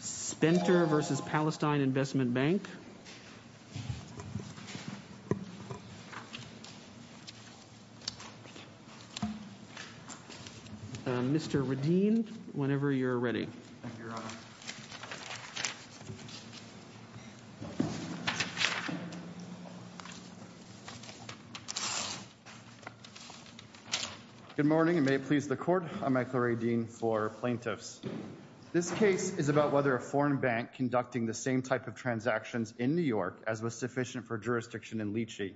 Spentner v. Palestine Investment Bank Mr. Radeen, whenever you're ready. Thank you, Your Honour. Good morning, and may it please the Court. I'm Michael Radeen for Plaintiffs. This case is about whether a foreign bank conducting the same type of transactions in New York as was sufficient for jurisdiction in Lychee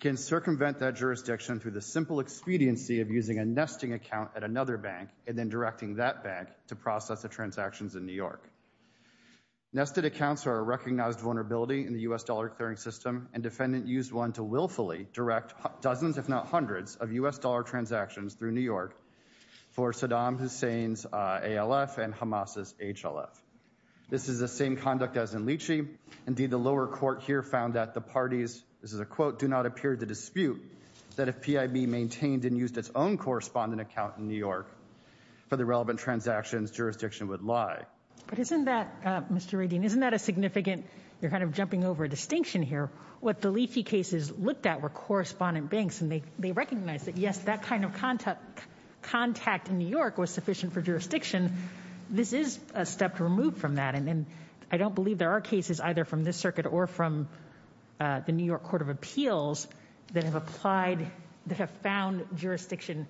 can circumvent that jurisdiction through the simple expediency of using a nesting account at another bank and then directing that bank to process the transactions in New York. Nested accounts are a recognized vulnerability in the U.S. dollar clearing system and defendant used one to willfully direct dozens if not hundreds of U.S. dollar transactions through New York for Saddam Hussein's ALF and Hamas's HLF. This is the same conduct as in Lychee. Indeed, the lower court here found that the parties, this is a quote, do not appear to dispute that if PIB maintained and used its own correspondent account in New York for the relevant transactions, jurisdiction would lie. But isn't that, Mr. Radeen, isn't that a significant, you're kind of jumping over a distinction here, what the Lychee cases looked at were correspondent banks and they recognized that, yes, that kind of contact in New York was sufficient for jurisdiction. This is a step removed from that. And I don't believe there are cases either from this circuit or from the New York Court of Appeals that have applied, that have found jurisdiction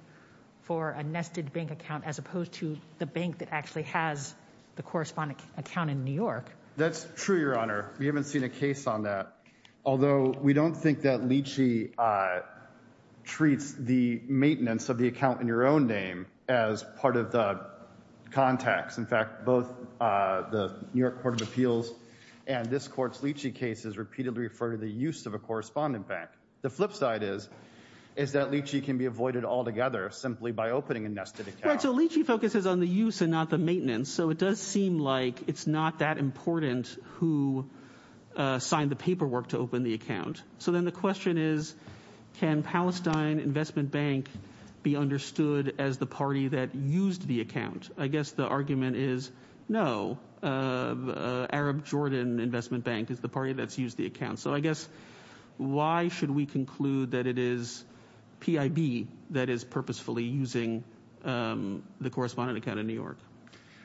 for a nested bank account as opposed to the bank that actually has the correspondent account in New York. That's true, Your Honor. We haven't seen a case on that. Although we don't think that Lychee treats the maintenance of the account in your own name as part of the contacts. In fact, both the New York Court of Appeals and this court's Lychee cases repeatedly refer to the use of a correspondent bank. The flip side is that Lychee can be avoided altogether simply by opening a nested account. Right, so Lychee focuses on the use and not the maintenance. So it does seem like it's not that important who signed the paperwork to open the account. So then the question is can Palestine Investment Bank be understood as the party that used the account? I guess the argument is no. Arab Jordan Investment Bank is the party that's used the account. So I guess why should we conclude that it is PIB that is purposefully using the correspondent account in New York?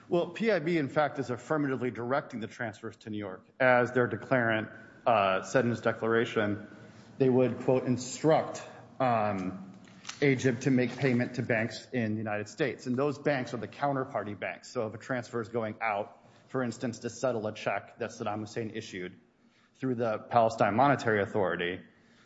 Well, PIB, in fact, is affirmatively directing the transfers to New York. As their declarant said in his declaration, they would, quote, instruct Egypt to make payment to banks in the United States. And those banks are the counterparty banks. So if a transfer is going out, for instance, to settle a check that Saddam Hussein issued through the Palestine Monetary Authority,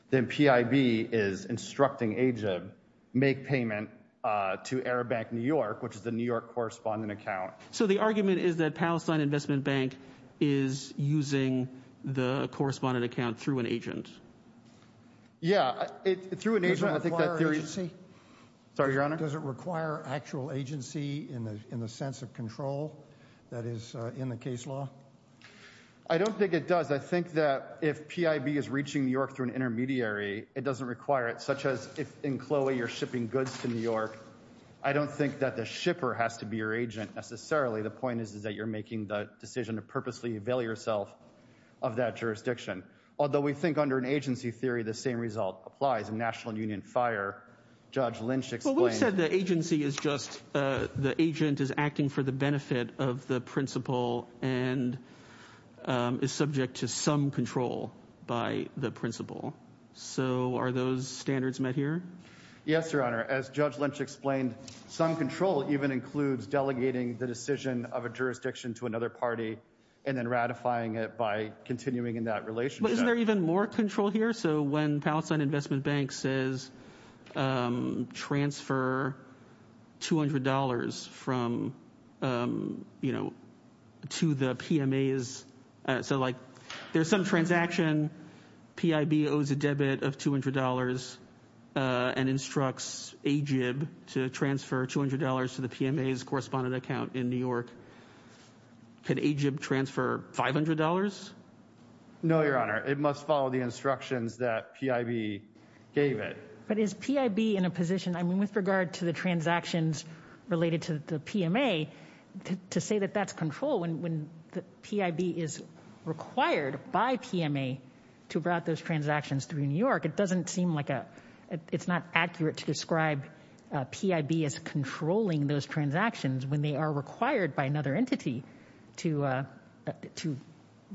then PIB is instructing Egypt to make payment to Arab Bank New York, which is the New York correspondent account. So the argument is that Palestine Investment Bank is using the correspondent account through an agent? Yeah, through an agent. Does it require agency? Sorry, Your Honor? Does it require actual agency in the sense of control that is in the case law? I don't think it does. I think that if PIB is reaching New York through an intermediary, it doesn't require it, such as if in Chloe you're shipping goods to New York, I don't think that the shipper has to be your agent necessarily. The point is that you're making the decision to purposely avail yourself of that jurisdiction. Although we think under an agency theory the same result applies. In National Union Fire, Judge Lynch explained. Well, we said the agency is just the agent is acting for the benefit of the principal and is subject to some control by the principal. So are those standards met here? Yes, Your Honor. As Judge Lynch explained, some control even includes delegating the decision of a jurisdiction to another party and then ratifying it by continuing in that relationship. But isn't there even more control here? So when Palestine Investment Bank says transfer $200 from, you know, to the PMAs, so like there's some transaction, PIB owes a debit of $200 and instructs AGIB to transfer $200 to the PMA's correspondent account in New York. Can AGIB transfer $500? No, Your Honor. It must follow the instructions that PIB gave it. But is PIB in a position, I mean, with regard to the transactions related to the PMA, to say that that's control when PIB is required by PMA to route those transactions through New York, it doesn't seem like a, it's not accurate to describe PIB as controlling those transactions when they are required by another entity to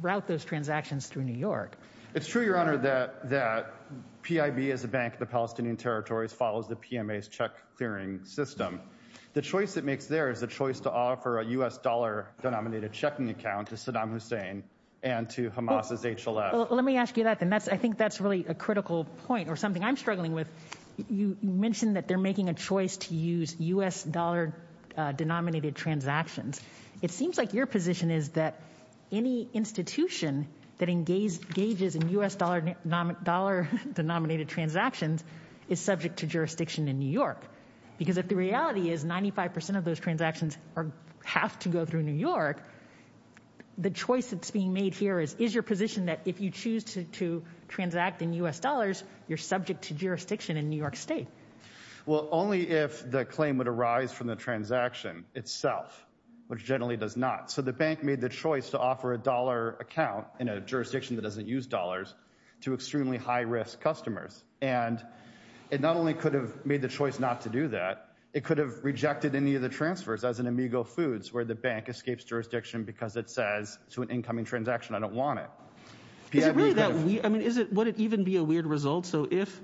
route those transactions through New York. It's true, Your Honor, that PIB as a bank of the Palestinian territories follows the PMA's check clearing system. The choice it makes there is the choice to offer a U.S. dollar-denominated checking account to Saddam Hussein and to Hamas's HLF. Let me ask you that then. I think that's really a critical point or something I'm struggling with. You mentioned that they're making a choice to use U.S. dollar-denominated transactions. It seems like your position is that any institution that engages in U.S. dollar-denominated transactions is subject to jurisdiction in New York. Because if the reality is 95% of those transactions have to go through New York, the choice that's being made here is, is your position that if you choose to transact in U.S. dollars, you're subject to jurisdiction in New York State? Well, only if the claim would arise from the transaction itself, which generally does not. So the bank made the choice to offer a dollar account in a jurisdiction that doesn't use dollars to extremely high-risk customers. And it not only could have made the choice not to do that, it could have rejected any of the transfers as an Amigo Foods, where the bank escapes jurisdiction because it says to an incoming transaction, I don't want it. Would it even be a weird result? So if,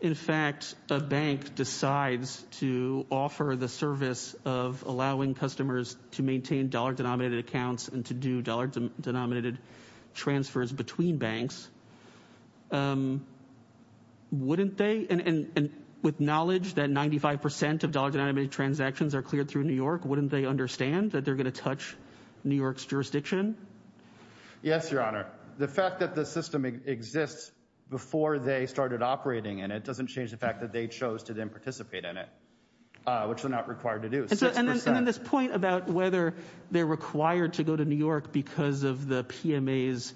in fact, a bank decides to offer the service of allowing customers to maintain dollar-denominated accounts and to do dollar-denominated transfers between banks, wouldn't they? And with knowledge that 95% of dollar-denominated transactions are cleared through New York, wouldn't they understand that they're going to touch New York's jurisdiction? Yes, Your Honor. The fact that the system exists before they started operating in it doesn't change the fact that they chose to then participate in it, which they're not required to do. And then this point about whether they're required to go to New York because of the PMA's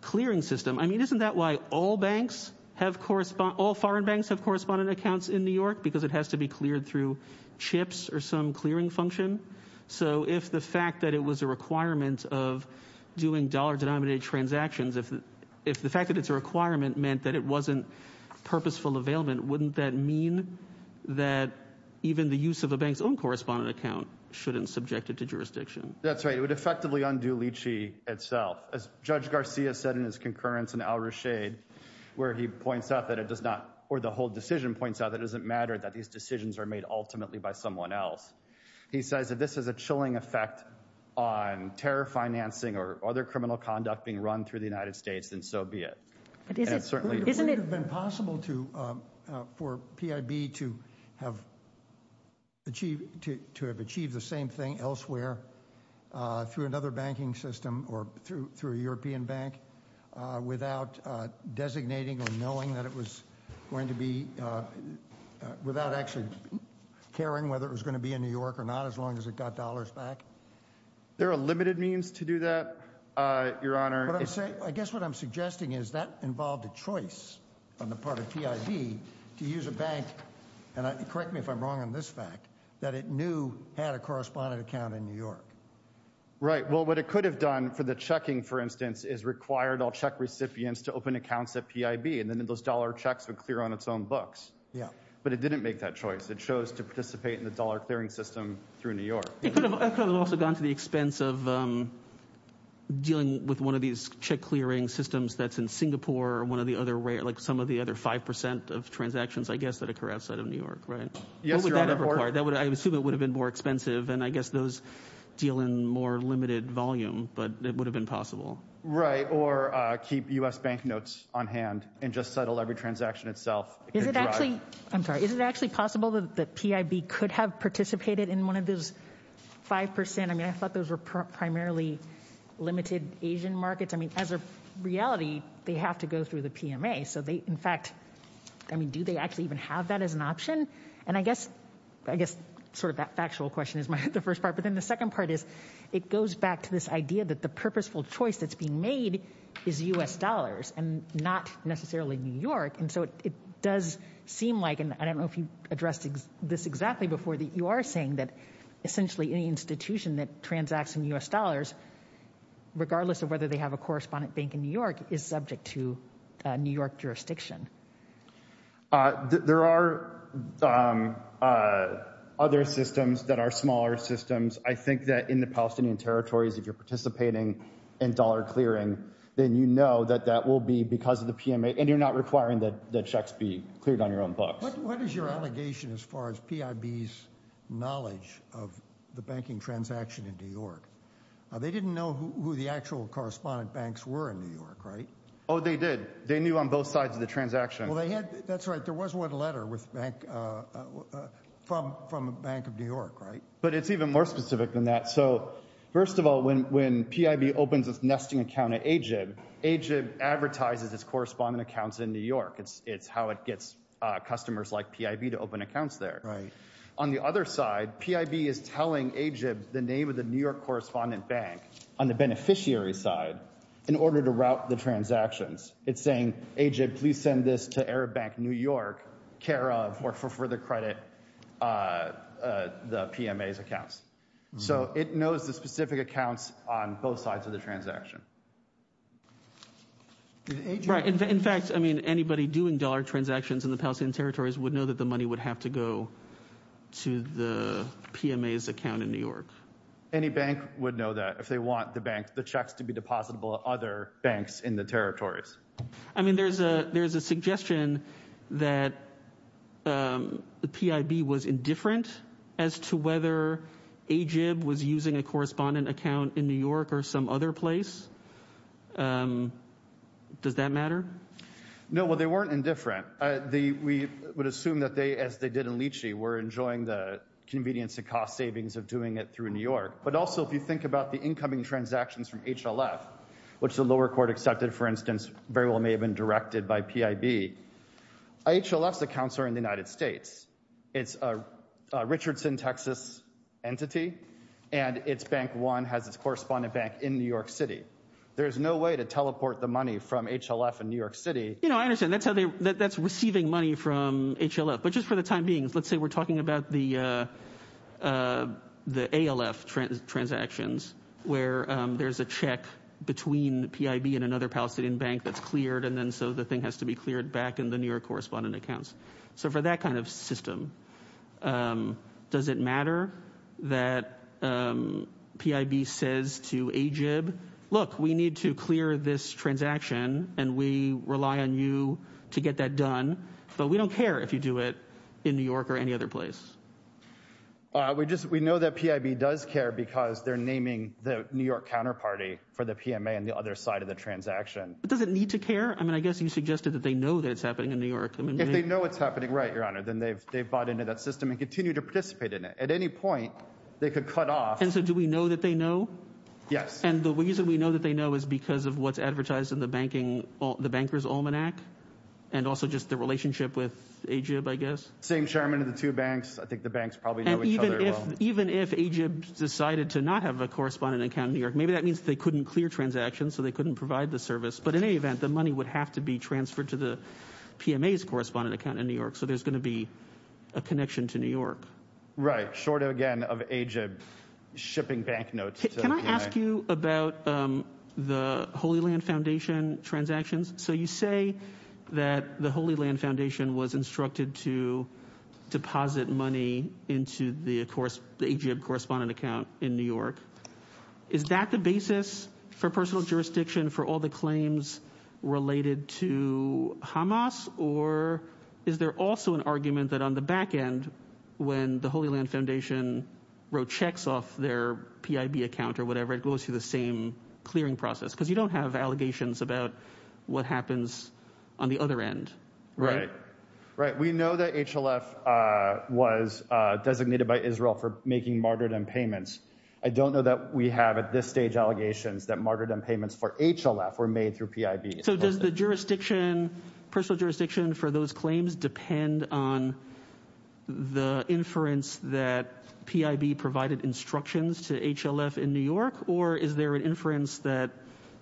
clearing system. I mean, isn't that why all foreign banks have correspondent accounts in New York, because it has to be cleared through chips or some clearing function? So if the fact that it was a requirement of doing dollar-denominated transactions, if the fact that it's a requirement meant that it wasn't purposeful availment, wouldn't that mean that even the use of a bank's own correspondent account shouldn't subject it to jurisdiction? That's right. It would effectively undo Lychee itself. As Judge Garcia said in his concurrence in Al Rashid, where he points out that it does not, or the whole decision points out that it doesn't matter that these decisions are made ultimately by someone else. He says if this is a chilling effect on terror financing or other criminal conduct being run through the United States, then so be it. It would have been possible for PIB to have achieved the same thing elsewhere through another banking system or through a European bank without designating or knowing that it was going to be, without actually caring whether it was going to be in New York or not, as long as it got dollars back. There are limited means to do that, Your Honor. I guess what I'm suggesting is that involved a choice on the part of PIB to use a bank, and correct me if I'm wrong on this fact, that it knew had a correspondent account in New York. Right. Well, what it could have done for the checking, for instance, is required all check recipients to open accounts at PIB, and then those dollar checks would clear on its own books. Yeah. But it didn't make that choice. It chose to participate in the dollar clearing system through New York. It could have also gone to the expense of dealing with one of these check clearing systems that's in Singapore or one of the other, like some of the other 5% of transactions, I guess, that occur outside of New York, right? Yes, Your Honor. What would that have required? I assume it would have been more expensive, and I guess those deal in more limited volume, but it would have been possible. Right, or keep U.S. bank notes on hand and just settle every transaction itself. I'm sorry. Is it actually possible that PIB could have participated in one of those 5%? I mean, I thought those were primarily limited Asian markets. I mean, as a reality, they have to go through the PMA. So, in fact, I mean, do they actually even have that as an option? And I guess sort of that factual question is the first part. But then the second part is it goes back to this idea that the purposeful choice that's being made is U.S. dollars and not necessarily New York. And so it does seem like, and I don't know if you addressed this exactly before, that you are saying that essentially any institution that transacts in U.S. dollars, regardless of whether they have a correspondent bank in New York, is subject to New York jurisdiction. There are other systems that are smaller systems. I think that in the Palestinian territories, if you're participating in dollar clearing, then you know that that will be because of the PMA, and you're not requiring that checks be cleared on your own books. What is your allegation as far as PIB's knowledge of the banking transaction in New York? They didn't know who the actual correspondent banks were in New York, right? Oh, they did. They knew on both sides of the transaction. That's right. There was one letter from the Bank of New York, right? But it's even more specific than that. So first of all, when PIB opens its nesting account at AGIB, AGIB advertises its correspondent accounts in New York. It's how it gets customers like PIB to open accounts there. On the other side, PIB is telling AGIB the name of the New York correspondent bank on the beneficiary side in order to route the transactions. It's saying, AGIB, please send this to Arab Bank New York, care of, or for further credit, the PMA's accounts. So it knows the specific accounts on both sides of the transaction. In fact, I mean, anybody doing dollar transactions in the Palestinian territories would know that the money would have to go to the PMA's account in New York. Any bank would know that if they want the checks to be depositable at other banks in the territories. I mean, there's a suggestion that the PIB was indifferent as to whether AGIB was using a correspondent account in New York or some other place. Does that matter? No, well, they weren't indifferent. We're enjoying the convenience and cost savings of doing it through New York. But also, if you think about the incoming transactions from HLF, which the lower court accepted, for instance, very well may have been directed by PIB, HLF's accounts are in the United States. It's a Richardson, Texas entity, and its Bank One has its correspondent bank in New York City. There's no way to teleport the money from HLF in New York City. You know, I understand. That's how they, that's receiving money from HLF. But just for the time being, let's say we're talking about the ALF transactions, where there's a check between PIB and another Palestinian bank that's cleared, and then so the thing has to be cleared back in the New York correspondent accounts. So for that kind of system, does it matter that PIB says to AGIB, look, we need to clear this transaction, and we rely on you to get that done, but we don't care if you do it in New York or any other place. We know that PIB does care because they're naming the New York counterparty for the PMA on the other side of the transaction. But does it need to care? I mean, I guess you suggested that they know that it's happening in New York. If they know it's happening, right, Your Honor, then they've bought into that system and continue to participate in it. At any point, they could cut off. And so do we know that they know? Yes. And the reason we know that they know is because of what's advertised in the Bankers' Almanac and also just the relationship with AGIB, I guess. Same chairman of the two banks. I think the banks probably know each other well. And even if AGIB decided to not have a correspondent account in New York, maybe that means they couldn't clear transactions, so they couldn't provide the service. But in any event, the money would have to be transferred to the PMA's correspondent account in New York, so there's going to be a connection to New York. Right. Short, again, of AGIB shipping bank notes to the PMA. Can I ask you about the Holy Land Foundation transactions? So you say that the Holy Land Foundation was instructed to deposit money into the AGIB correspondent account in New York. Is that the basis for personal jurisdiction for all the claims related to Hamas? Or is there also an argument that on the back end, when the Holy Land Foundation wrote checks off their PIB account or whatever, it goes through the same clearing process? Because you don't have allegations about what happens on the other end, right? Right. We know that HLF was designated by Israel for making martyrdom payments. I don't know that we have at this stage allegations that martyrdom payments for HLF were made through PIB. So does the jurisdiction, personal jurisdiction for those claims, depend on the inference that PIB provided instructions to HLF in New York? Or is there an inference that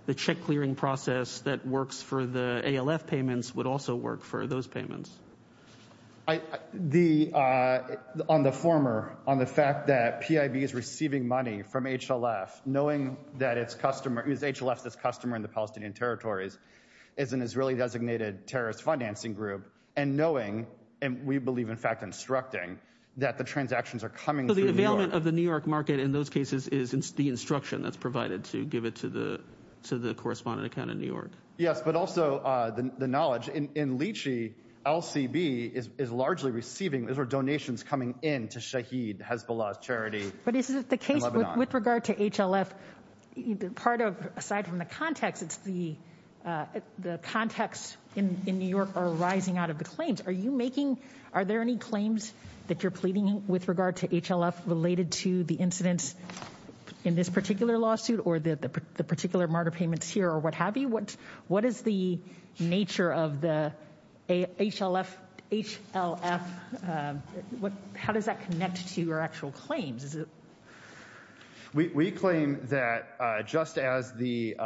the check clearing process that works for the ALF payments would also work for those payments? On the former, on the fact that PIB is receiving money from HLF, knowing that it's customer, it was HLF that's customer in the Palestinian territories, is an Israeli-designated terrorist financing group, and knowing, and we believe in fact instructing, that the transactions are coming through New York. So the deployment of the New York market in those cases is the instruction that's provided to give it to the correspondent account in New York. Yes, but also the knowledge. In Lychee, LCB is largely receiving, those are donations coming in to Shaheed, Hezbollah's charity in Lebanon. But is it the case with regard to HLF, part of, aside from the context, it's the context in New York are rising out of the claims. Are you making, are there any claims that you're pleading with regard to HLF related to the incidents in this particular lawsuit, or the particular martyr payments here, or what have you? What is the nature of the HLF, how does that connect to your actual claims? We claim that just as the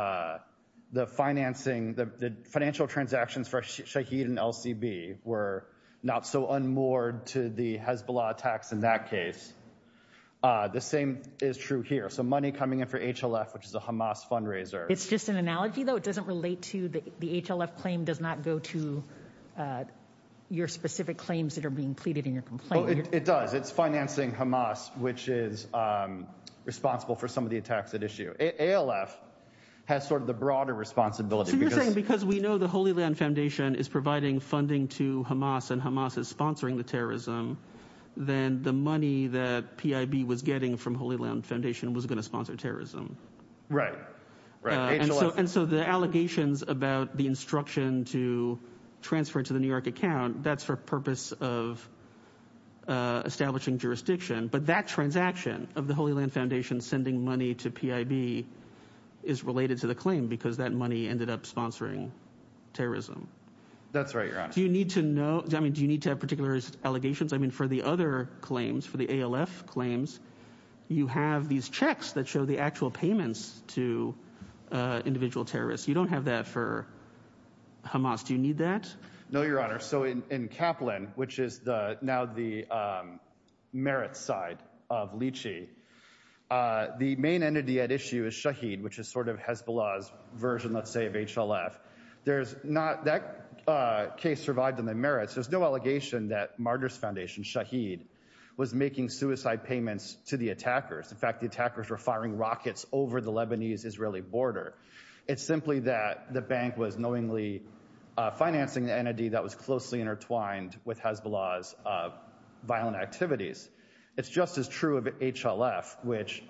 financing, the financial transactions for Shaheed and LCB were not so unmoored to the Hezbollah attacks in that case, the same is true here. So money coming in for HLF, which is a Hamas fundraiser. It's just an analogy though, it doesn't relate to, the HLF claim does not go to your specific claims that are being pleaded in your complaint. It does, it's financing Hamas, which is responsible for some of the attacks at issue. ALF has sort of the broader responsibility. So you're saying because we know the Holy Land Foundation is providing funding to Hamas and Hamas is sponsoring the terrorism, then the money that PIB was getting from Holy Land Foundation was going to sponsor terrorism. Right. And so the allegations about the instruction to transfer to the New York account, that's for purpose of establishing jurisdiction. But that transaction of the Holy Land Foundation sending money to PIB is related to the claim because that money ended up sponsoring terrorism. That's right, Your Honor. Do you need to know, I mean, do you need to have particular allegations? I mean, for the other claims, for the ALF claims, you have these checks that show the actual payments to individual terrorists. You don't have that for Hamas. Do you need that? No, Your Honor. So in Kaplan, which is now the merit side of Lychee, the main entity at issue is Shaheed, which is sort of Hezbollah's version, let's say, of HLF. That case survived in the merits. There's no allegation that Martyrs Foundation, Shaheed, was making suicide payments to the attackers. In fact, the attackers were firing rockets over the Lebanese-Israeli border. It's simply that the bank was knowingly financing the entity that was closely intertwined with Hezbollah's violent activities. It's just as true of HLF, which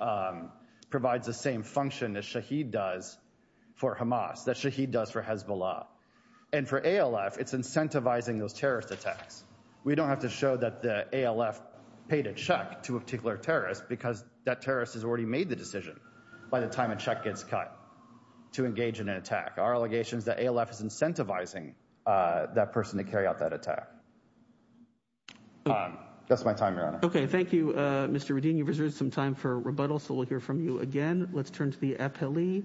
provides the same function that Shaheed does for Hamas, that Shaheed does for Hezbollah. And for ALF, it's incentivizing those terrorist attacks. We don't have to show that the ALF paid a check to a particular terrorist because that terrorist has already made the decision by the time a check gets cut to engage in an attack. Our allegation is that ALF is incentivizing that person to carry out that attack. That's my time, Your Honor. Okay, thank you, Mr. Radin. You've reserved some time for rebuttal, so we'll hear from you again. Let's turn to the appellee,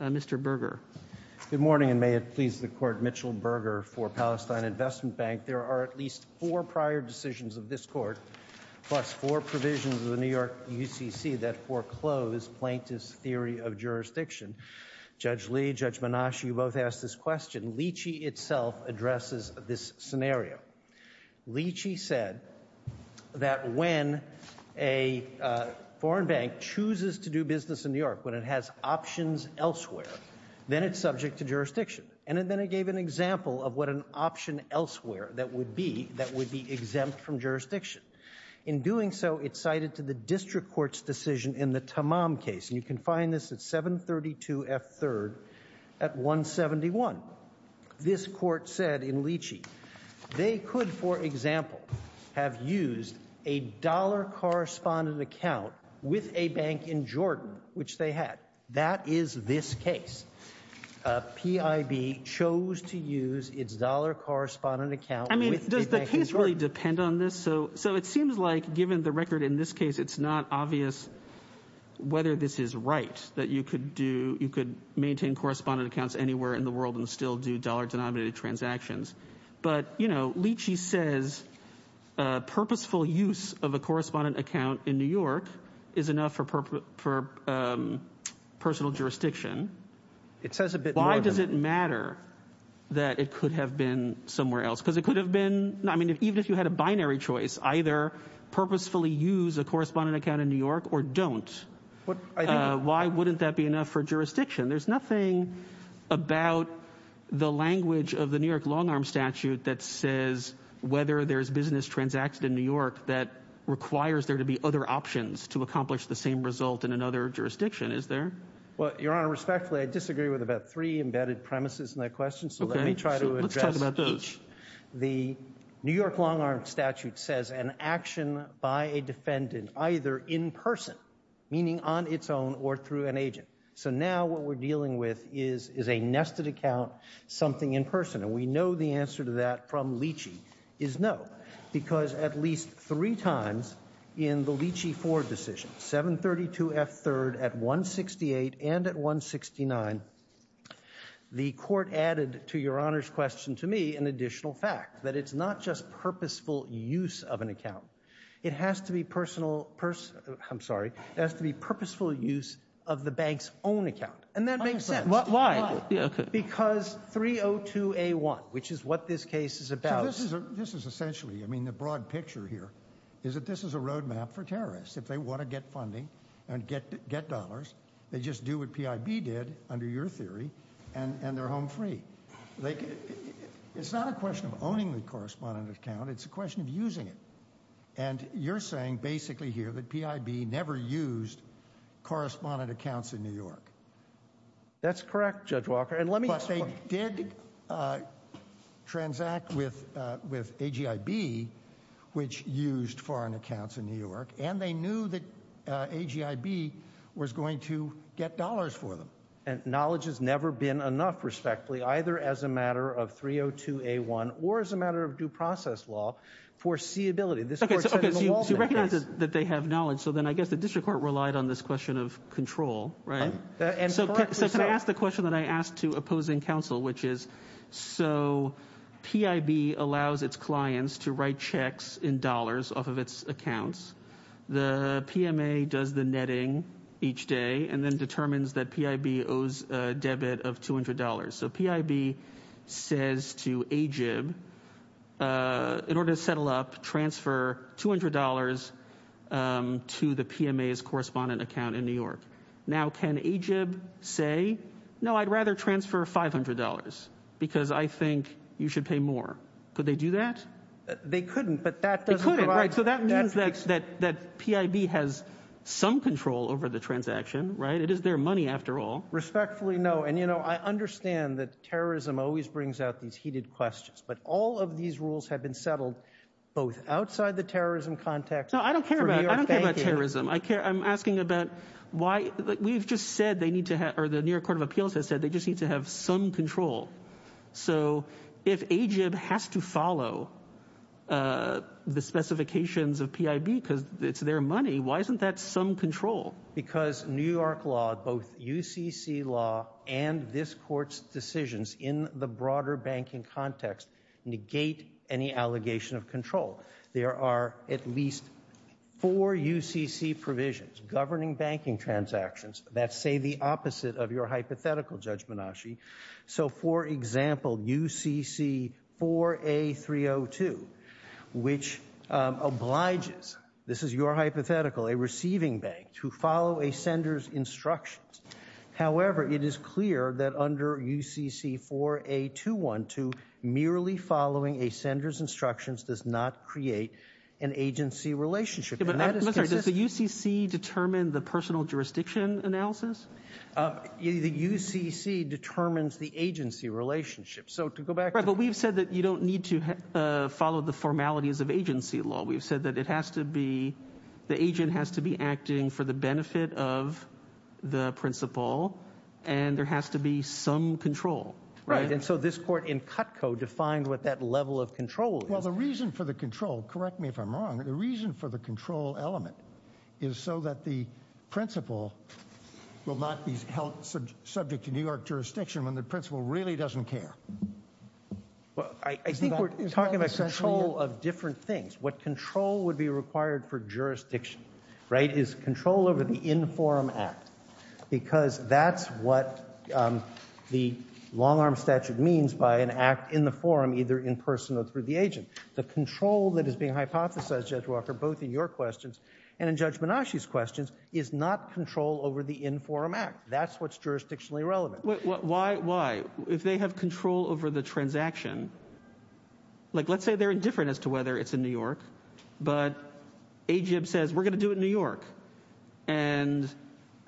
Mr. Berger. Good morning, and may it please the Court, Mitchell Berger for Palestine Investment Bank. There are at least four prior decisions of this Court, plus four provisions of the New York UCC that foreclose Plaintiff's Theory of Jurisdiction. Judge Lee, Judge Menashe, you both asked this question. Leachy itself addresses this scenario. Leachy said that when a foreign bank chooses to do business in New York, when it has options elsewhere, then it's subject to jurisdiction. And then it gave an example of what an option elsewhere that would be that would be exempt from jurisdiction. In doing so, it cited to the district court's decision in the Tamam case, and you can find this at 732 F. 3rd at 171. This court said in Leachy, they could, for example, have used a dollar correspondent account with a bank in Jordan, which they had. That is this case. PIB chose to use its dollar correspondent account with a bank in Jordan. I mean, does the case really depend on this? So it seems like, given the record in this case, it's not obvious whether this is right, that you could maintain correspondent accounts anywhere in the world and still do dollar-denominated transactions. But, you know, Leachy says purposeful use of a correspondent account in New York is enough for personal jurisdiction. Why does it matter that it could have been somewhere else? Because it could have been, I mean, even if you had a binary choice, either purposefully use a correspondent account in New York or don't. Why wouldn't that be enough for jurisdiction? There's nothing about the language of the New York long-arm statute that says whether there's business transacted in New York that requires there to be other options to accomplish the same result in another jurisdiction, is there? Well, Your Honor, respectfully, I disagree with about three embedded premises in that question, so let me try to address each. The New York long-arm statute says an action by a defendant either in person, meaning on its own or through an agent. So now what we're dealing with is a nested account, something in person. And we know the answer to that from Leachy is no, because at least three times in the Leachy-Ford decision, 732 F. 3rd at 168 and at 169, the court added to Your Honor's question to me an additional fact, that it's not just purposeful use of an account. It has to be personal, I'm sorry, it has to be purposeful use of the bank's own account. And that makes sense. Why? Because 302A1, which is what this case is about. So this is essentially, I mean, the broad picture here is that this is a roadmap for terrorists. If they want to get funding and get dollars, they just do what PIB did, under your theory, and they're home free. It's not a question of owning the correspondent account, it's a question of using it. And you're saying basically here that PIB never used correspondent accounts in New York. That's correct, Judge Walker. But they did transact with AGIB, which used foreign accounts in New York, and they knew that AGIB was going to get dollars for them. And knowledge has never been enough, respectfully, either as a matter of 302A1 or as a matter of due process law, foreseeability. Okay, so you recognize that they have knowledge, so then I guess the district court relied on this question of control, right? So can I ask the question that I asked to opposing counsel, which is, so PIB allows its clients to write checks in dollars off of its accounts. The PMA does the netting each day and then determines that PIB owes a debit of $200. So PIB says to AGIB, in order to settle up, transfer $200 to the PMA's correspondent account in New York. Now can AGIB say, no, I'd rather transfer $500, because I think you should pay more? Could they do that? They couldn't, but that doesn't provide... They couldn't, right. So that means that PIB has some control over the transaction, right? It is their money, after all. Respectfully, no. And, you know, I understand that terrorism always brings out these heated questions, but all of these rules have been settled both outside the terrorism context... No, I don't care about terrorism. I'm asking about why... We've just said they need to have... or the New York Court of Appeals has said they just need to have some control. So if AGIB has to follow the specifications of PIB because it's their money, why isn't that some control? Because New York law, both UCC law and this Court's decisions in the broader banking context negate any allegation of control. There are at least four UCC provisions governing banking transactions that say the opposite of your hypothetical, Judge Menasche. So, for example, UCC-4A-302, which obliges, this is your hypothetical, a receiving bank to follow a sender's instructions. However, it is clear that under UCC-4A-212, merely following a sender's instructions does not create an agency relationship. And that is consistent... But, Mr., does the UCC determine the personal jurisdiction analysis? The UCC determines the agency relationship. So, to go back to... Right, but we've said that you don't need to follow the formalities of agency law. We've said that it has to be, the agent has to be acting for the benefit of the principal and there has to be some control. Right, and so this Court in Cutco defined what that level of control is. Well, the reason for the control, correct me if I'm wrong, the reason for the control element is so that the principal will not be held subject to New York jurisdiction when the principal really doesn't care. Well, I think we're talking about control of different things. What control would be required for jurisdiction, right, is control over the in-forum act because that's what the long-arm statute means by an act in the forum, either in person or through the agent. The control that is being hypothesized, Judge Walker, both in your questions and in Judge Minashi's questions, is not control over the in-forum act. That's what's jurisdictionally relevant. Why? If they have control over the transaction, like, let's say they're indifferent as to whether it's in New York, but AGIB says, we're going to do it in New York, and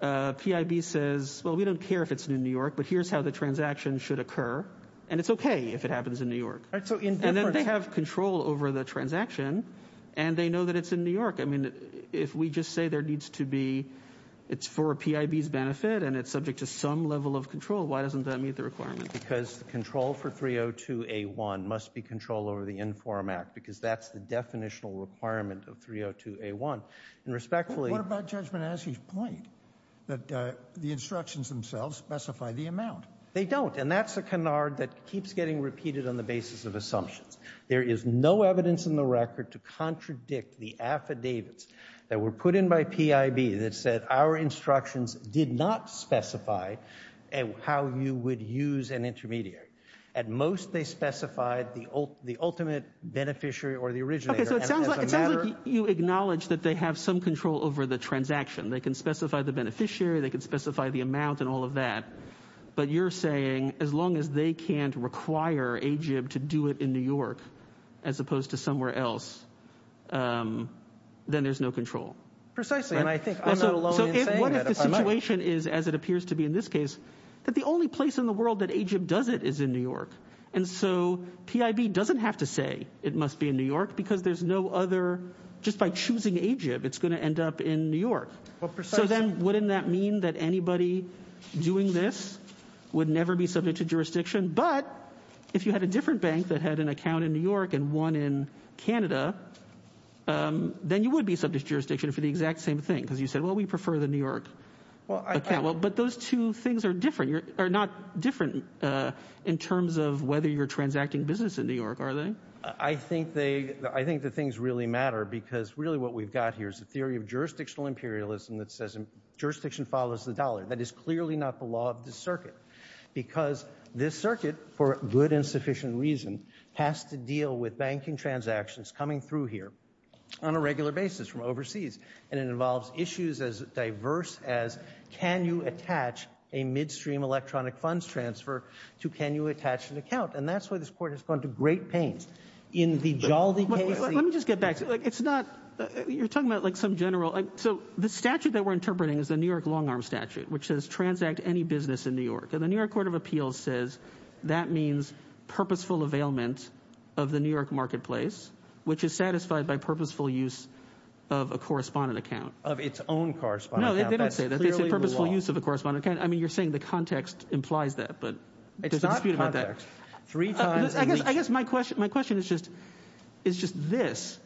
PIB says, well, we don't care if it's in New York, but here's how the transaction should occur, and it's okay if it happens in New York. And then they have control over the transaction and they know that it's in New York. I mean, if we just say there needs to be, it's for PIB's benefit and it's subject to some level of control, why doesn't that meet the requirement? Because control for 302A1 must be control over the in-forum act because that's the definitional requirement of 302A1. And respectfully... But what about Judge Minashi's point that the instructions themselves specify the amount? They don't, and that's a canard that keeps getting repeated on the basis of assumptions. There is no evidence in the record to contradict the affidavits that were put in by PIB that said our instructions did not specify how you would use an intermediary. At most, they specified the ultimate beneficiary or the originator. Okay, so it sounds like you acknowledge that they have some control over the transaction. They can specify the beneficiary, they can specify the amount and all of that, but you're saying as long as they can't require AGIB to do it in New York as opposed to somewhere else, then there's no control. Precisely, and I think I'm not alone in saying that. What if the situation is, as it appears to be in this case, that the only place in the world that AGIB does it is in New York? And so PIB doesn't have to say it must be in New York because there's no other... Just by choosing AGIB, it's going to end up in New York. So then wouldn't that mean that anybody doing this would never be subject to jurisdiction? But if you had a different bank that had an account in New York and one in Canada, then you would be subject to jurisdiction for the exact same thing because you said, well, we prefer the New York account. But those two things are different. They're not different in terms of whether you're transacting business in New York, are they? I think the things really matter because really what we've got here is a theory of jurisdictional imperialism that says jurisdiction follows the dollar. That is clearly not the law of the circuit because this circuit, for good and sufficient reason, has to deal with banking transactions coming through here on a regular basis from overseas. And it involves issues as diverse as can you attach a midstream electronic funds transfer to can you attach an account? And that's why this Court has gone to great pains in the jolting case... Let me just get back. It's not... You're talking about, like, some general... So the statute that we're interpreting is the New York long-arm statute, which says transact any business in New York. And the New York Court of Appeals says that means purposeful availment of the New York marketplace, which is satisfied by purposeful use of a correspondent account. Of its own correspondent account. No, they don't say that. They say purposeful use of a correspondent account. I mean, you're saying the context implies that, but there's a dispute about that. It's not context. Three times... I guess my question is just this.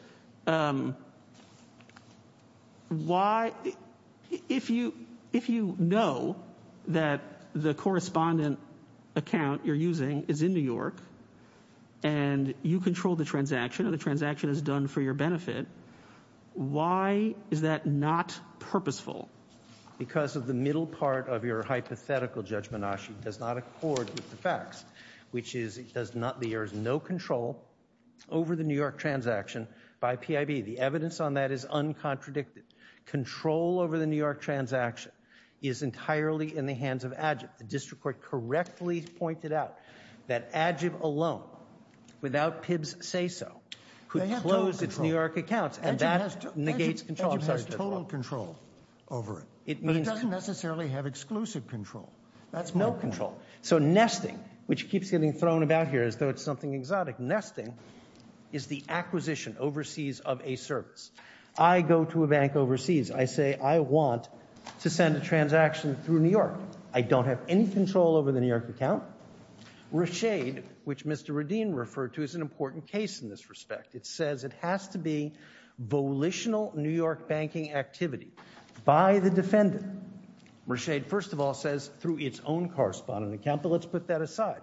Why... If you know that the correspondent account you're using is in New York, and you control the transaction, and the transaction is done for your benefit, why is that not purposeful? Because of the middle part of your hypothetical judgment, Ashi, does not accord with the facts, which is there is no control over the New York transaction by PIB. The evidence on that is uncontradicted. Control over the New York transaction is entirely in the hands of AGIB. The district court correctly pointed out that AGIB alone, without PIB's say-so, could close its New York accounts, and that negates control. AGIB has total control over it. But it doesn't necessarily have exclusive control. That's more important. No control. So nesting, which keeps getting thrown about here as though it's something exotic, nesting is the acquisition overseas of a service. I go to a bank overseas. I say I want to send a transaction through New York. I don't have any control over the New York account. Rashaid, which Mr. Radin referred to, is an important case in this respect. It says it has to be volitional New York banking activity by the defendant. Rashaid, first of all, says through its own correspondent account, but let's put that aside.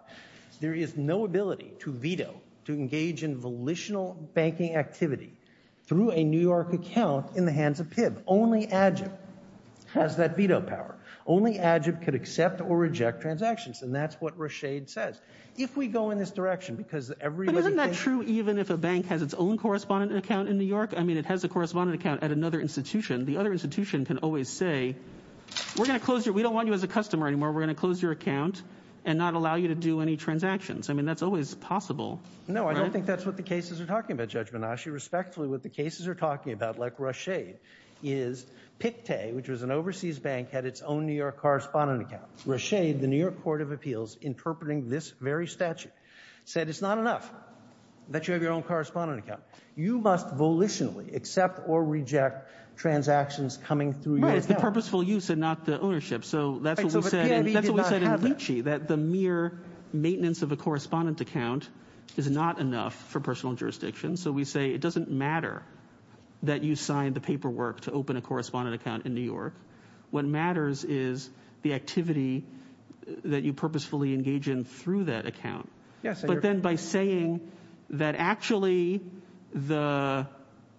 There is no ability to veto, to engage in volitional banking activity through a New York account in the hands of PIB. Only AGIB has that veto power. Only AGIB could accept or reject transactions, and that's what Rashaid says. If we go in this direction, because everybody thinks... But isn't that true even if a bank has its own correspondent account in New York? I mean, it has a correspondent account at another institution. The other institution can always say, we're going to close your... we don't want you as a customer anymore. We're going to close your account and not allow you to do any transactions. I mean, that's always possible. No, I don't think that's what the cases are talking about, Judge Banaschi. Respectfully, what the cases are talking about, like Rashaid, is PICTE, which was an overseas bank, had its own New York correspondent account. Rashaid, the New York Court of Appeals, interpreting this very statute, said it's not enough that you have your own correspondent account. You must volitionally accept or reject transactions coming through your account. Right, it's the purposeful use and not the ownership. So that's what we said. But PIB did not have that. That's what we said in Lychee, that the mere maintenance of a correspondent account is not enough for personal jurisdiction. So we say it doesn't matter that you signed the paperwork to open a correspondent account in New York. What matters is the activity that you purposefully engage in through that account. But then by saying that actually the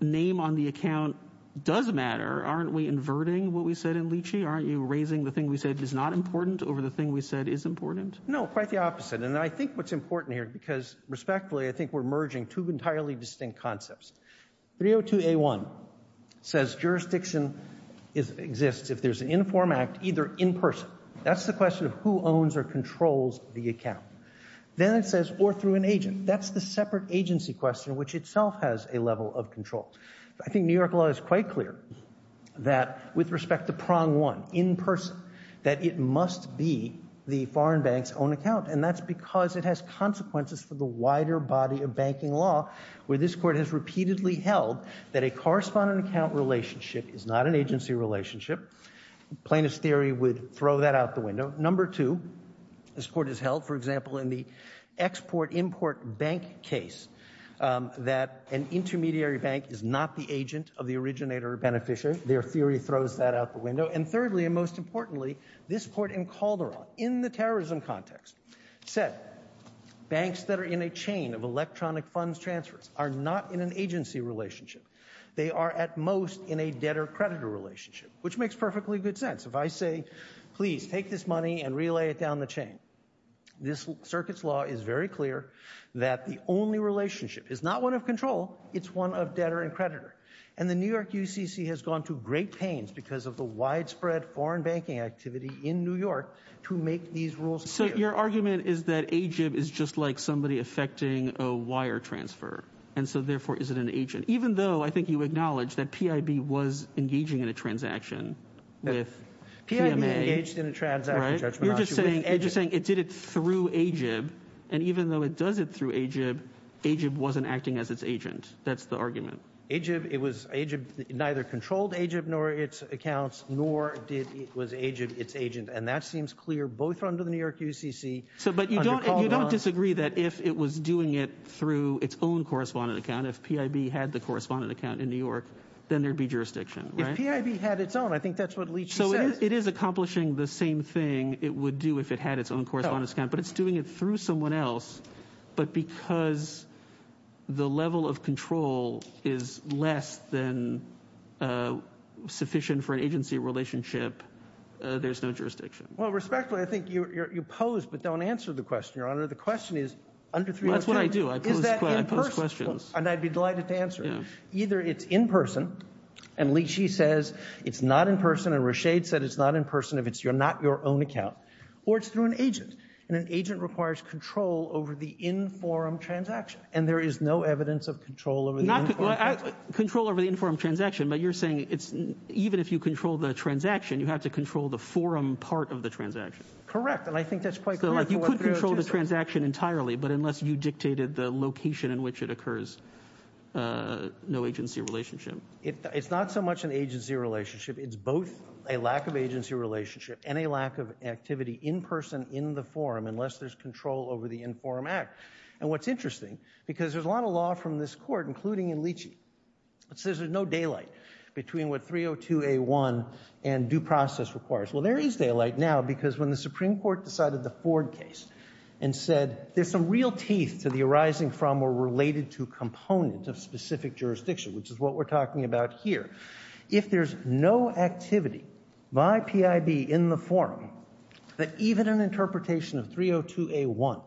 name on the account does matter, aren't we inverting what we said in Lychee? Aren't you raising the thing we said is not important over the thing we said is important? No, quite the opposite. And I think what's important here, because respectfully, I think we're merging two entirely distinct concepts. 302A1 says jurisdiction exists if there's an inform act either in person. That's the question of who owns or controls the account. Then it says, or through an agent. That's the separate agency question which itself has a level of control. I think New York law is quite clear that with respect to prong one, in person, that it must be the foreign bank's own account. And that's because it has consequences for the wider body of banking law where this court has repeatedly held that a correspondent account relationship is not an agency relationship. Plaintiff's theory would throw that out the window. Number two, this court has held, for example, in the export-import bank case that an intermediary bank is not the agent of the originator or beneficiary. Their theory throws that out the window. And thirdly, and most importantly, this court in Calderon, in the terrorism context, said banks that are in a chain of electronic funds transfers are not in an agency relationship. They are at most in a debtor-creditor relationship, which makes perfectly good sense. If I say, please, take this money and relay it down the chain, this circuit's law is very clear that the only relationship is not one of control, it's one of debtor and creditor. And the New York UCC has gone to great pains because of the widespread foreign banking activity in New York to make these rules clear. So your argument is that AGIB is just like somebody effecting a wire transfer, and so therefore isn't an agent, even though I think you acknowledge that PIB was engaging in a transaction with PMA. PIB engaged in a transaction, Judge Menascu. You're just saying it did it through AGIB, and even though it does it through AGIB, AGIB wasn't acting as its agent. That's the argument. AGIB neither controlled AGIB nor its accounts, nor was AGIB its agent. And that seems clear both under the New York UCC. But you don't disagree that if it was doing it through its own correspondent account, if PIB had the correspondent account in New York, then there'd be jurisdiction, right? If PIB had its own, I think that's what Leach says. So it is accomplishing the same thing it would do if it had its own correspondent account, but it's doing it through someone else, but because the level of control is less than sufficient for an agency relationship, there's no jurisdiction. Well, respectfully, I think you pose, but don't answer the question, Your Honor. The question is, under 302... Well, that's what I do. I pose questions. And I'd be delighted to answer it. Either it's in person, and Leach, he says, it's not in person, and Rashid said it's not in person if it's not your own account, or it's through an agent. And an agent requires control over the in-forum transaction, and there is no evidence of control over the in-forum transaction. Control over the in-forum transaction, but you're saying even if you control the transaction, you have to control the forum part of the transaction. Correct, and I think that's quite clear for what 302 says. So you could control the transaction entirely, but unless you dictated the location in which it occurs, no agency relationship. It's not so much an agency relationship. It's both a lack of agency relationship and a lack of activity in person in the forum unless there's control over the in-forum act. And what's interesting, because there's a lot of law from this court, including in Leach, it says there's no daylight between what 302A1 and due process requires. Well, there is daylight now, because when the Supreme Court decided the Ford case and said there's some real teeth to the arising from or related to component of specific jurisdiction, which is what we're talking about here, if there's no activity by PIB in the forum, that even an interpretation of 302A1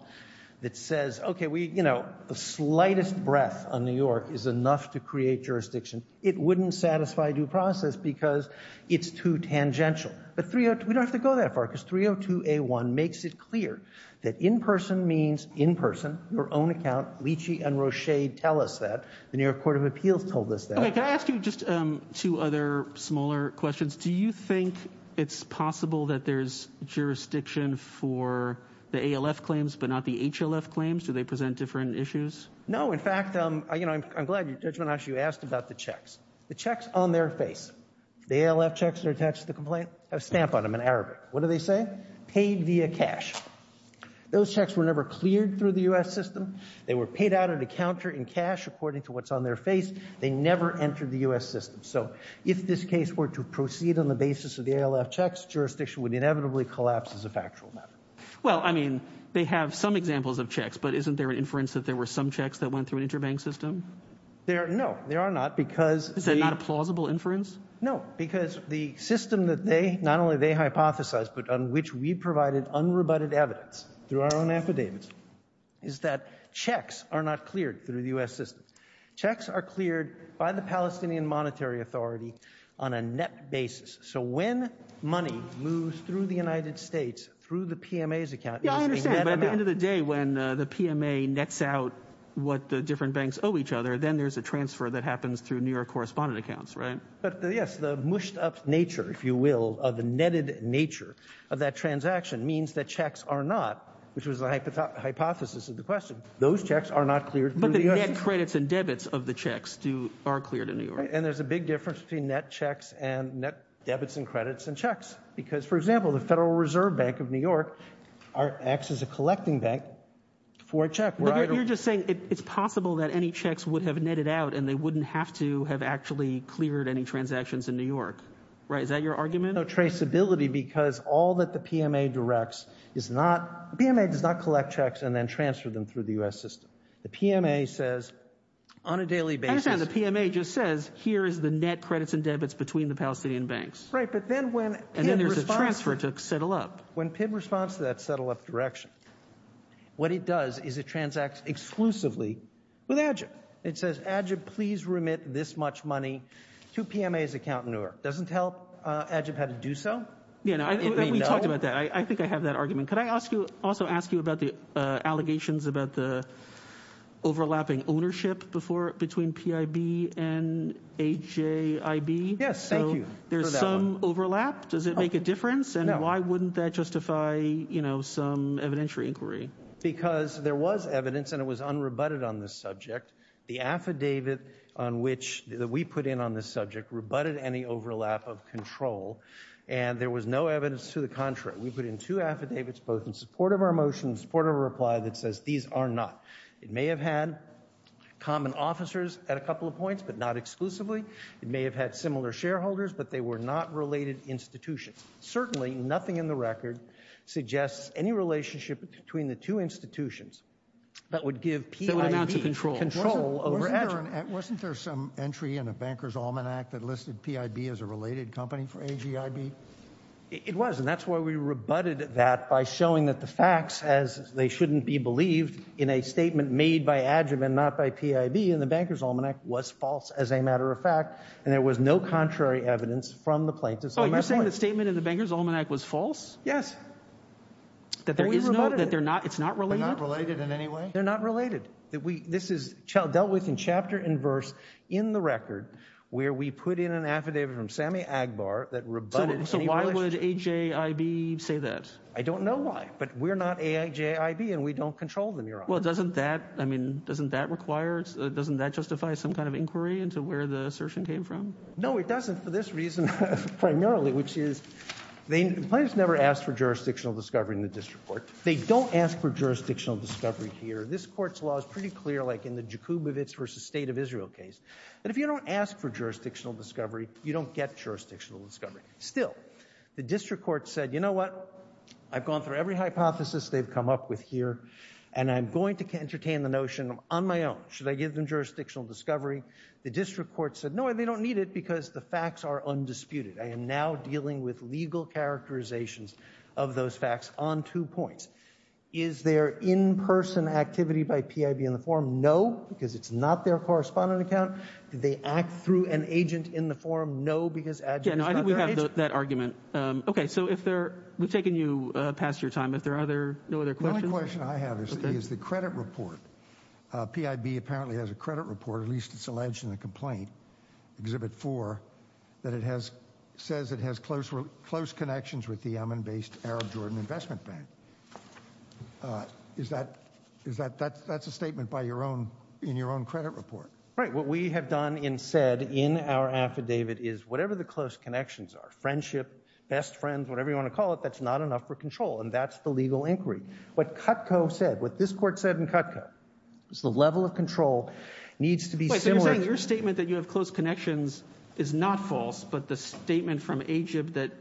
that says, okay, we, you know, the slightest breath on New York is enough to create jurisdiction, it wouldn't satisfy due process because it's too tangential. But we don't have to go that far, because 302A1 makes it clear that in person means in person, your own account. Leachie and Rochade tell us that. The New York Court of Appeals told us that. Okay, can I ask you just two other smaller questions? Do you think it's possible that there's jurisdiction for the ALF claims but not the HLF claims? Do they present different issues? you asked about the checks. The checks on their face. The ALF checks that are attached to the complaint have a stamp on them in Arabic. What do they say? Paid via cash. Those checks were never cleared through the U.S. system. They were paid out at a counter in cash according to what's on their face. They never entered the U.S. system. So if this case were to proceed on the basis of the ALF checks, jurisdiction would inevitably collapse as a factual matter. Well, I mean, they have some examples of checks, but isn't there an inference that there were some checks that went through an interbank system? No, there are not, because... Is that not a plausible inference? No, because the system that they, not only they hypothesized, but on which we provided unrebutted evidence through our own affidavits, is that checks are not cleared through the U.S. system. Checks are cleared by the Palestinian Monetary Authority on a net basis. So when money moves through the United States through the PMA's account... Yeah, I understand. By the end of the day, when the PMA nets out what the different banks owe each other, then there's a transfer that happens through New York correspondent accounts, right? But, yes, the mushed-up nature, if you will, of the netted nature of that transaction means that checks are not, which was the hypothesis of the question, those checks are not cleared through the U.S. system. But the net credits and debits of the checks are cleared in New York. And there's a big difference between net checks and net debits and credits and checks, because, for example, the Federal Reserve Bank of New York acts as a collecting bank for a check. But you're just saying it's possible that any checks would have netted out and they wouldn't have to have actually cleared any transactions in New York, right? Is that your argument? No traceability, because all that the PMA directs is not... the PMA does not collect checks and then transfer them through the U.S. system. The PMA says on a daily basis... I understand the PMA just says, here is the net credits and debits between the Palestinian banks. Right, but then when PIB responds... And then there's a transfer to settle up. When PIB responds to that settle-up direction, what it does is it transacts exclusively with AGIP. It says, AGIP, please remit this much money to PMA's accountant in New York. It doesn't tell AGIP how to do so. Yeah, we talked about that. I think I have that argument. Could I also ask you about the allegations about the overlapping ownership between PIB and AJIB? Yes, thank you for that one. So there's some overlap. Does it make a difference? And why wouldn't that justify some evidentiary inquiry? Because there was evidence, and it was unrebutted on this subject. The affidavit that we put in on this subject rebutted any overlap of control, and there was no evidence to the contrary. We put in two affidavits, both in support of our motion, in support of our reply, that says these are not. It may have had common officers at a couple of points, but not exclusively. It may have had similar shareholders, but they were not related institutions. Certainly nothing in the record suggests any relationship between the two institutions that would give PIB control over AJIB. Wasn't there some entry in the Bankers' Almanac that listed PIB as a related company for AJIB? It was, and that's why we rebutted that by showing that the facts, as they shouldn't be believed, in a statement made by AJIB and not by PIB in the Bankers' Almanac was false, as a matter of fact, and there was no contrary evidence from the plaintiffs on that point. Oh, you're saying the statement in the Bankers' Almanac was false? Yes. But we rebutted it. That it's not related? They're not related in any way? They're not related. This is dealt with in chapter and verse in the record, where we put in an affidavit from Sammy Agbar that rebutted any relationship. So why would AJIB say that? I don't know why, but we're not AJIB, and we don't control them, Your Honor. Well, doesn't that, I mean, doesn't that require, doesn't that justify some kind of inquiry into where the assertion came from? No, it doesn't for this reason primarily, which is the plaintiffs never asked for jurisdictional discovery in the district court. They don't ask for jurisdictional discovery here. This Court's law is pretty clear, like in the Jakubowicz v. State of Israel case. But if you don't ask for jurisdictional discovery, you don't get jurisdictional discovery. Still, the district court said, you know what, I've gone through every hypothesis they've come up with here, and I'm going to entertain the notion on my own. Should I give them jurisdictional discovery? The district court said, no, they don't need it because the facts are undisputed. I am now dealing with legal characterizations of those facts on two points. Is there in-person activity by PIB in the forum? No, because it's not their correspondent account. Did they act through an agent in the forum? No, because adjuncts are not their agents. Yeah, no, I think we have that argument. Okay, so if there, we've taken you past your time. If there are no other questions? The only question I have is the credit report. PIB apparently has a credit report, at least it's alleged in the complaint, Exhibit 4, that it has, says it has close connections with the Yemen-based Arab Jordan Investment Bank. Is that, that's a statement by your own, in your own credit report. Right, what we have done and said in our affidavit is whatever the close connections are, friendship, best friends, whatever you want to call it, that's not enough for control, and that's the legal inquiry. What Cutco said, what this court said in Cutco, is the level of control needs to be similar. Your statement that you have close connections is not false, but the statement from Egypt that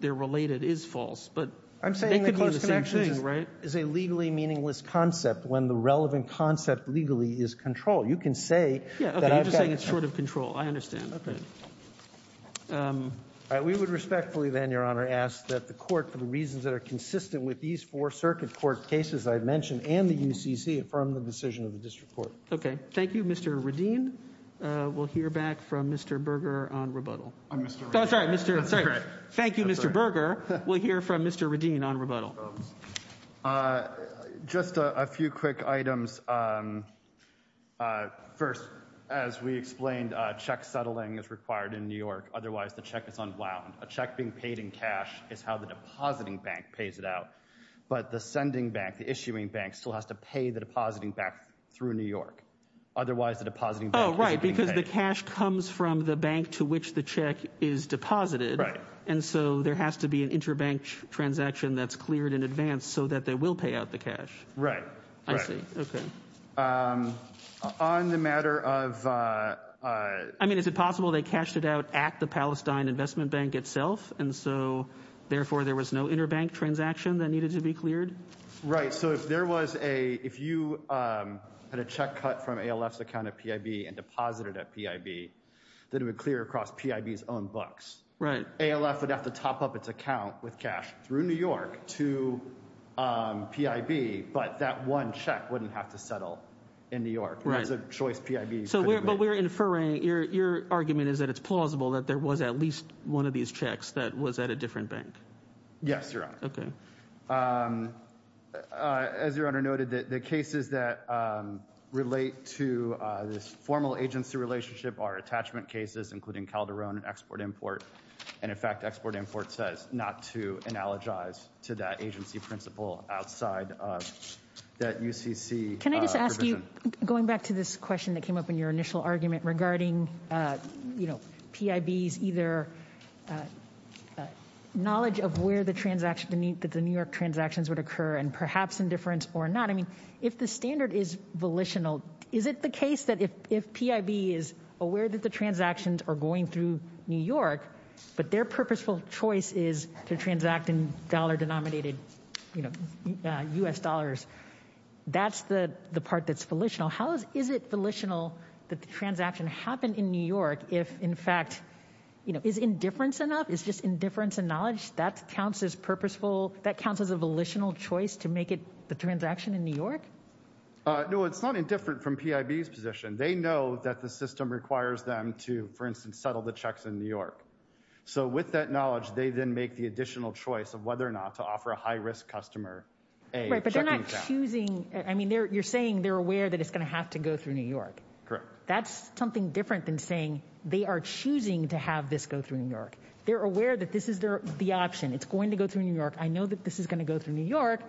they're related is false, but I'm saying the close connections is a legally meaningless concept when the relevant concept legally is control. You can say Yeah, okay, you're just saying it's short of control. I understand, okay. We would respectfully then, Your Honor, ask that the court, for the reasons that are consistent with these four circuit court cases I've mentioned and the UCC, affirm the decision of the district court. Okay, thank you, Mr. Radin. We'll hear back from Mr. Berger on rebuttal. I'm Mr. Radin. Oh, I'm sorry. Thank you, Mr. Berger. We'll hear from Mr. Radin on rebuttal. Just a few quick items. First, as we explained, check settling is required in New York. Otherwise, the check is unwound. A check being paid in cash is how the depositing bank pays it out, but the sending bank, the issuing bank, still has to pay the depositing bank through New York. Otherwise, the depositing bank is being paid. Oh, right, because the cash comes from the bank to which the check is deposited. Right. And so there has to be an interbank transaction that's cleared in advance so that they will pay out the cash. Right, right. I see, okay. On the matter of... I mean, is it possible they cashed it out at the Palestine Investment Bank itself, and so, therefore, there was no interbank transaction that needed to be cleared? Right, so if there was a... ALF's account at PIB and deposited at PIB, then it would clear across PIB's own books. Right. ALF would have to top up its account with cash through New York to PIB, but that one check wouldn't have to settle in New York. Right. That's a choice PIB couldn't make. But we're inferring, your argument is that it's plausible that there was at least one of these checks that was at a different bank. Yes, Your Honor. Okay. As Your Honor noted, the cases that relate to this formal agency relationship are attachment cases, including Calderon Export-Import, and, in fact, Export-Import says not to analogize to that agency principle outside of that UCC provision. Can I just ask you, going back to this question that came up in your initial argument regarding PIB's either knowledge of where the New York transactions would occur and perhaps indifference or not. I mean, if the standard is volitional, is it the case that if PIB is aware that the transactions are going through New York but their purposeful choice is to transact in dollar-denominated U.S. dollars, that's the part that's volitional? How is it volitional that the transaction happened in New York if, in fact, is indifference enough? Is just indifference and knowledge, that counts as purposeful, that counts as a volitional choice to make the transaction in New York? No, it's not indifferent from PIB's position. They know that the system requires them to, for instance, settle the checks in New York. So with that knowledge, they then make the additional choice of whether or not to offer a high-risk customer a checking account. Right, but they're not choosing. I mean, you're saying they're aware that it's going to have to go through New York. Correct. That's something different than saying they are choosing to have this go through New York. They're aware that this is the option. It's going to go through New York. I know that this is going to go through New York.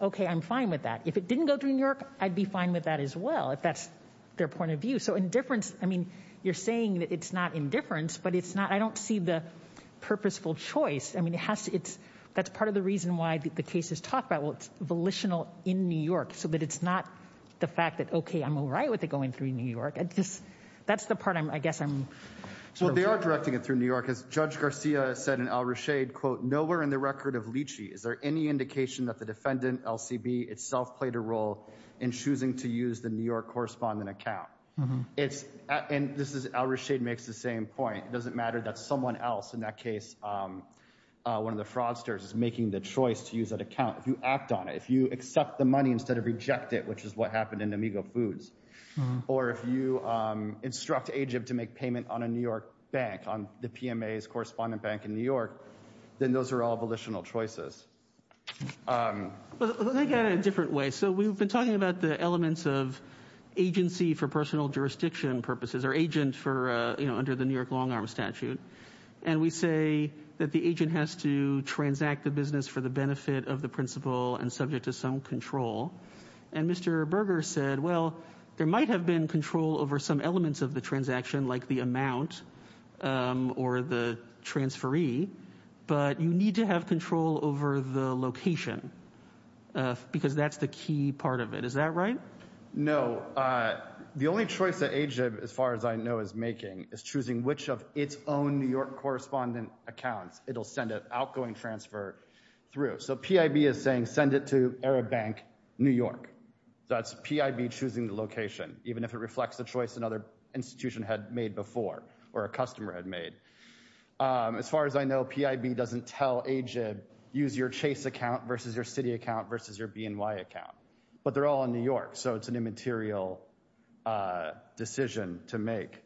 Okay, I'm fine with that. If it didn't go through New York, I'd be fine with that as well, if that's their point of view. So indifference, I mean, you're saying that it's not indifference, but it's not, I don't see the purposeful choice. I mean, it has to, it's, that's part of the reason why the case is talked about. Well, it's volitional in New York so that it's not the fact that, okay, I'm all right with it going through New York. I just, that's the part I'm, I guess I'm... Well, they are directing it through New York. As Judge Garcia said in Al-Rashid, quote, nowhere in the record of Lychee, is there any indication that the defendant, LCB, itself played a role in choosing to use the New York correspondent account? It's, and this is, Al-Rashid makes the same point. It doesn't matter that someone else, in that case, one of the fraudsters, is making the choice to use that account. If you act on it, if you accept the money instead of reject it, which is what happened in Amigo Foods, or if you instruct Egypt to make payment on a New York bank, on the PMA's correspondent bank in New York, then those are all volitional choices. Well, let me get at it a different way. So, we've been talking about the elements of agency for personal jurisdiction purposes, or agent for, you know, under the New York long-arm statute. And we say that the agent has to transact the business for the benefit of the principal and subject to some control. And Mr. Berger said, well, there might have been control over some elements of the transaction, like the amount or the transferee, but you need to have control over the location, because that's the key part of it. Is that right? No. The only choice that Agib, as far as I know, is making is choosing which of its own New York correspondent accounts it'll send an outgoing transfer through. So, PIB is saying, send it to Arab Bank, New York. That's PIB choosing the location, even if it reflects the choice another institution had made before, or a customer had made. As far as I know, PIB doesn't tell Agib, use your Chase account versus your Citi account versus your BNY account. But they're all in New York, so it's an immaterial decision to make.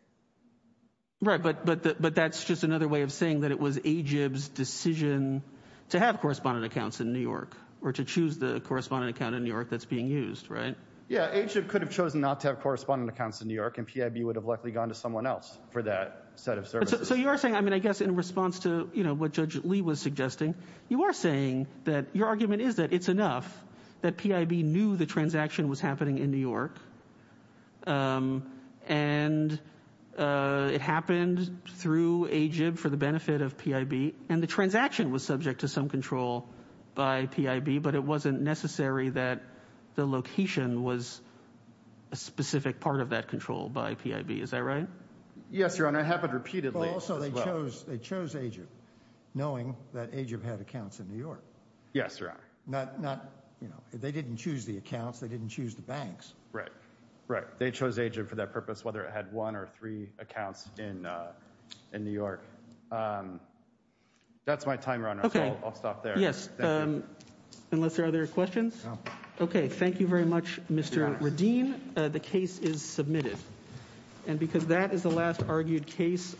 Right, but that's just another way of saying that it was Agib's decision to have correspondent accounts in New York, or to choose the correspondent account in New York that's being used, right? Yeah, Agib could have chosen not to have correspondent accounts in New York, and PIB would have likely gone to someone else for that set of services. So you are saying, I mean, I guess in response to, you know, what Judge Lee was suggesting, you are saying that your argument is that it's enough that PIB knew the transaction was happening in New York, and it happened through Agib for the benefit of PIB, and the transaction was subject to some control by PIB, but it wasn't necessary that the location was a specific part of that control by PIB, is that right? Yes, Your Honor, it happened repeatedly as well. Well, also, they chose Agib, knowing that Agib had accounts in New York. Yes, Your Honor. Not, you know, they didn't choose the accounts, they didn't choose the banks. Right, right, they chose Agib for that purpose, whether it had one or three accounts in New York. That's my time, Your Honor, so I'll stop there. Yes, unless there are other questions. Okay, thank you very much, Mr. Radin. The case is submitted. And because that is the last argued case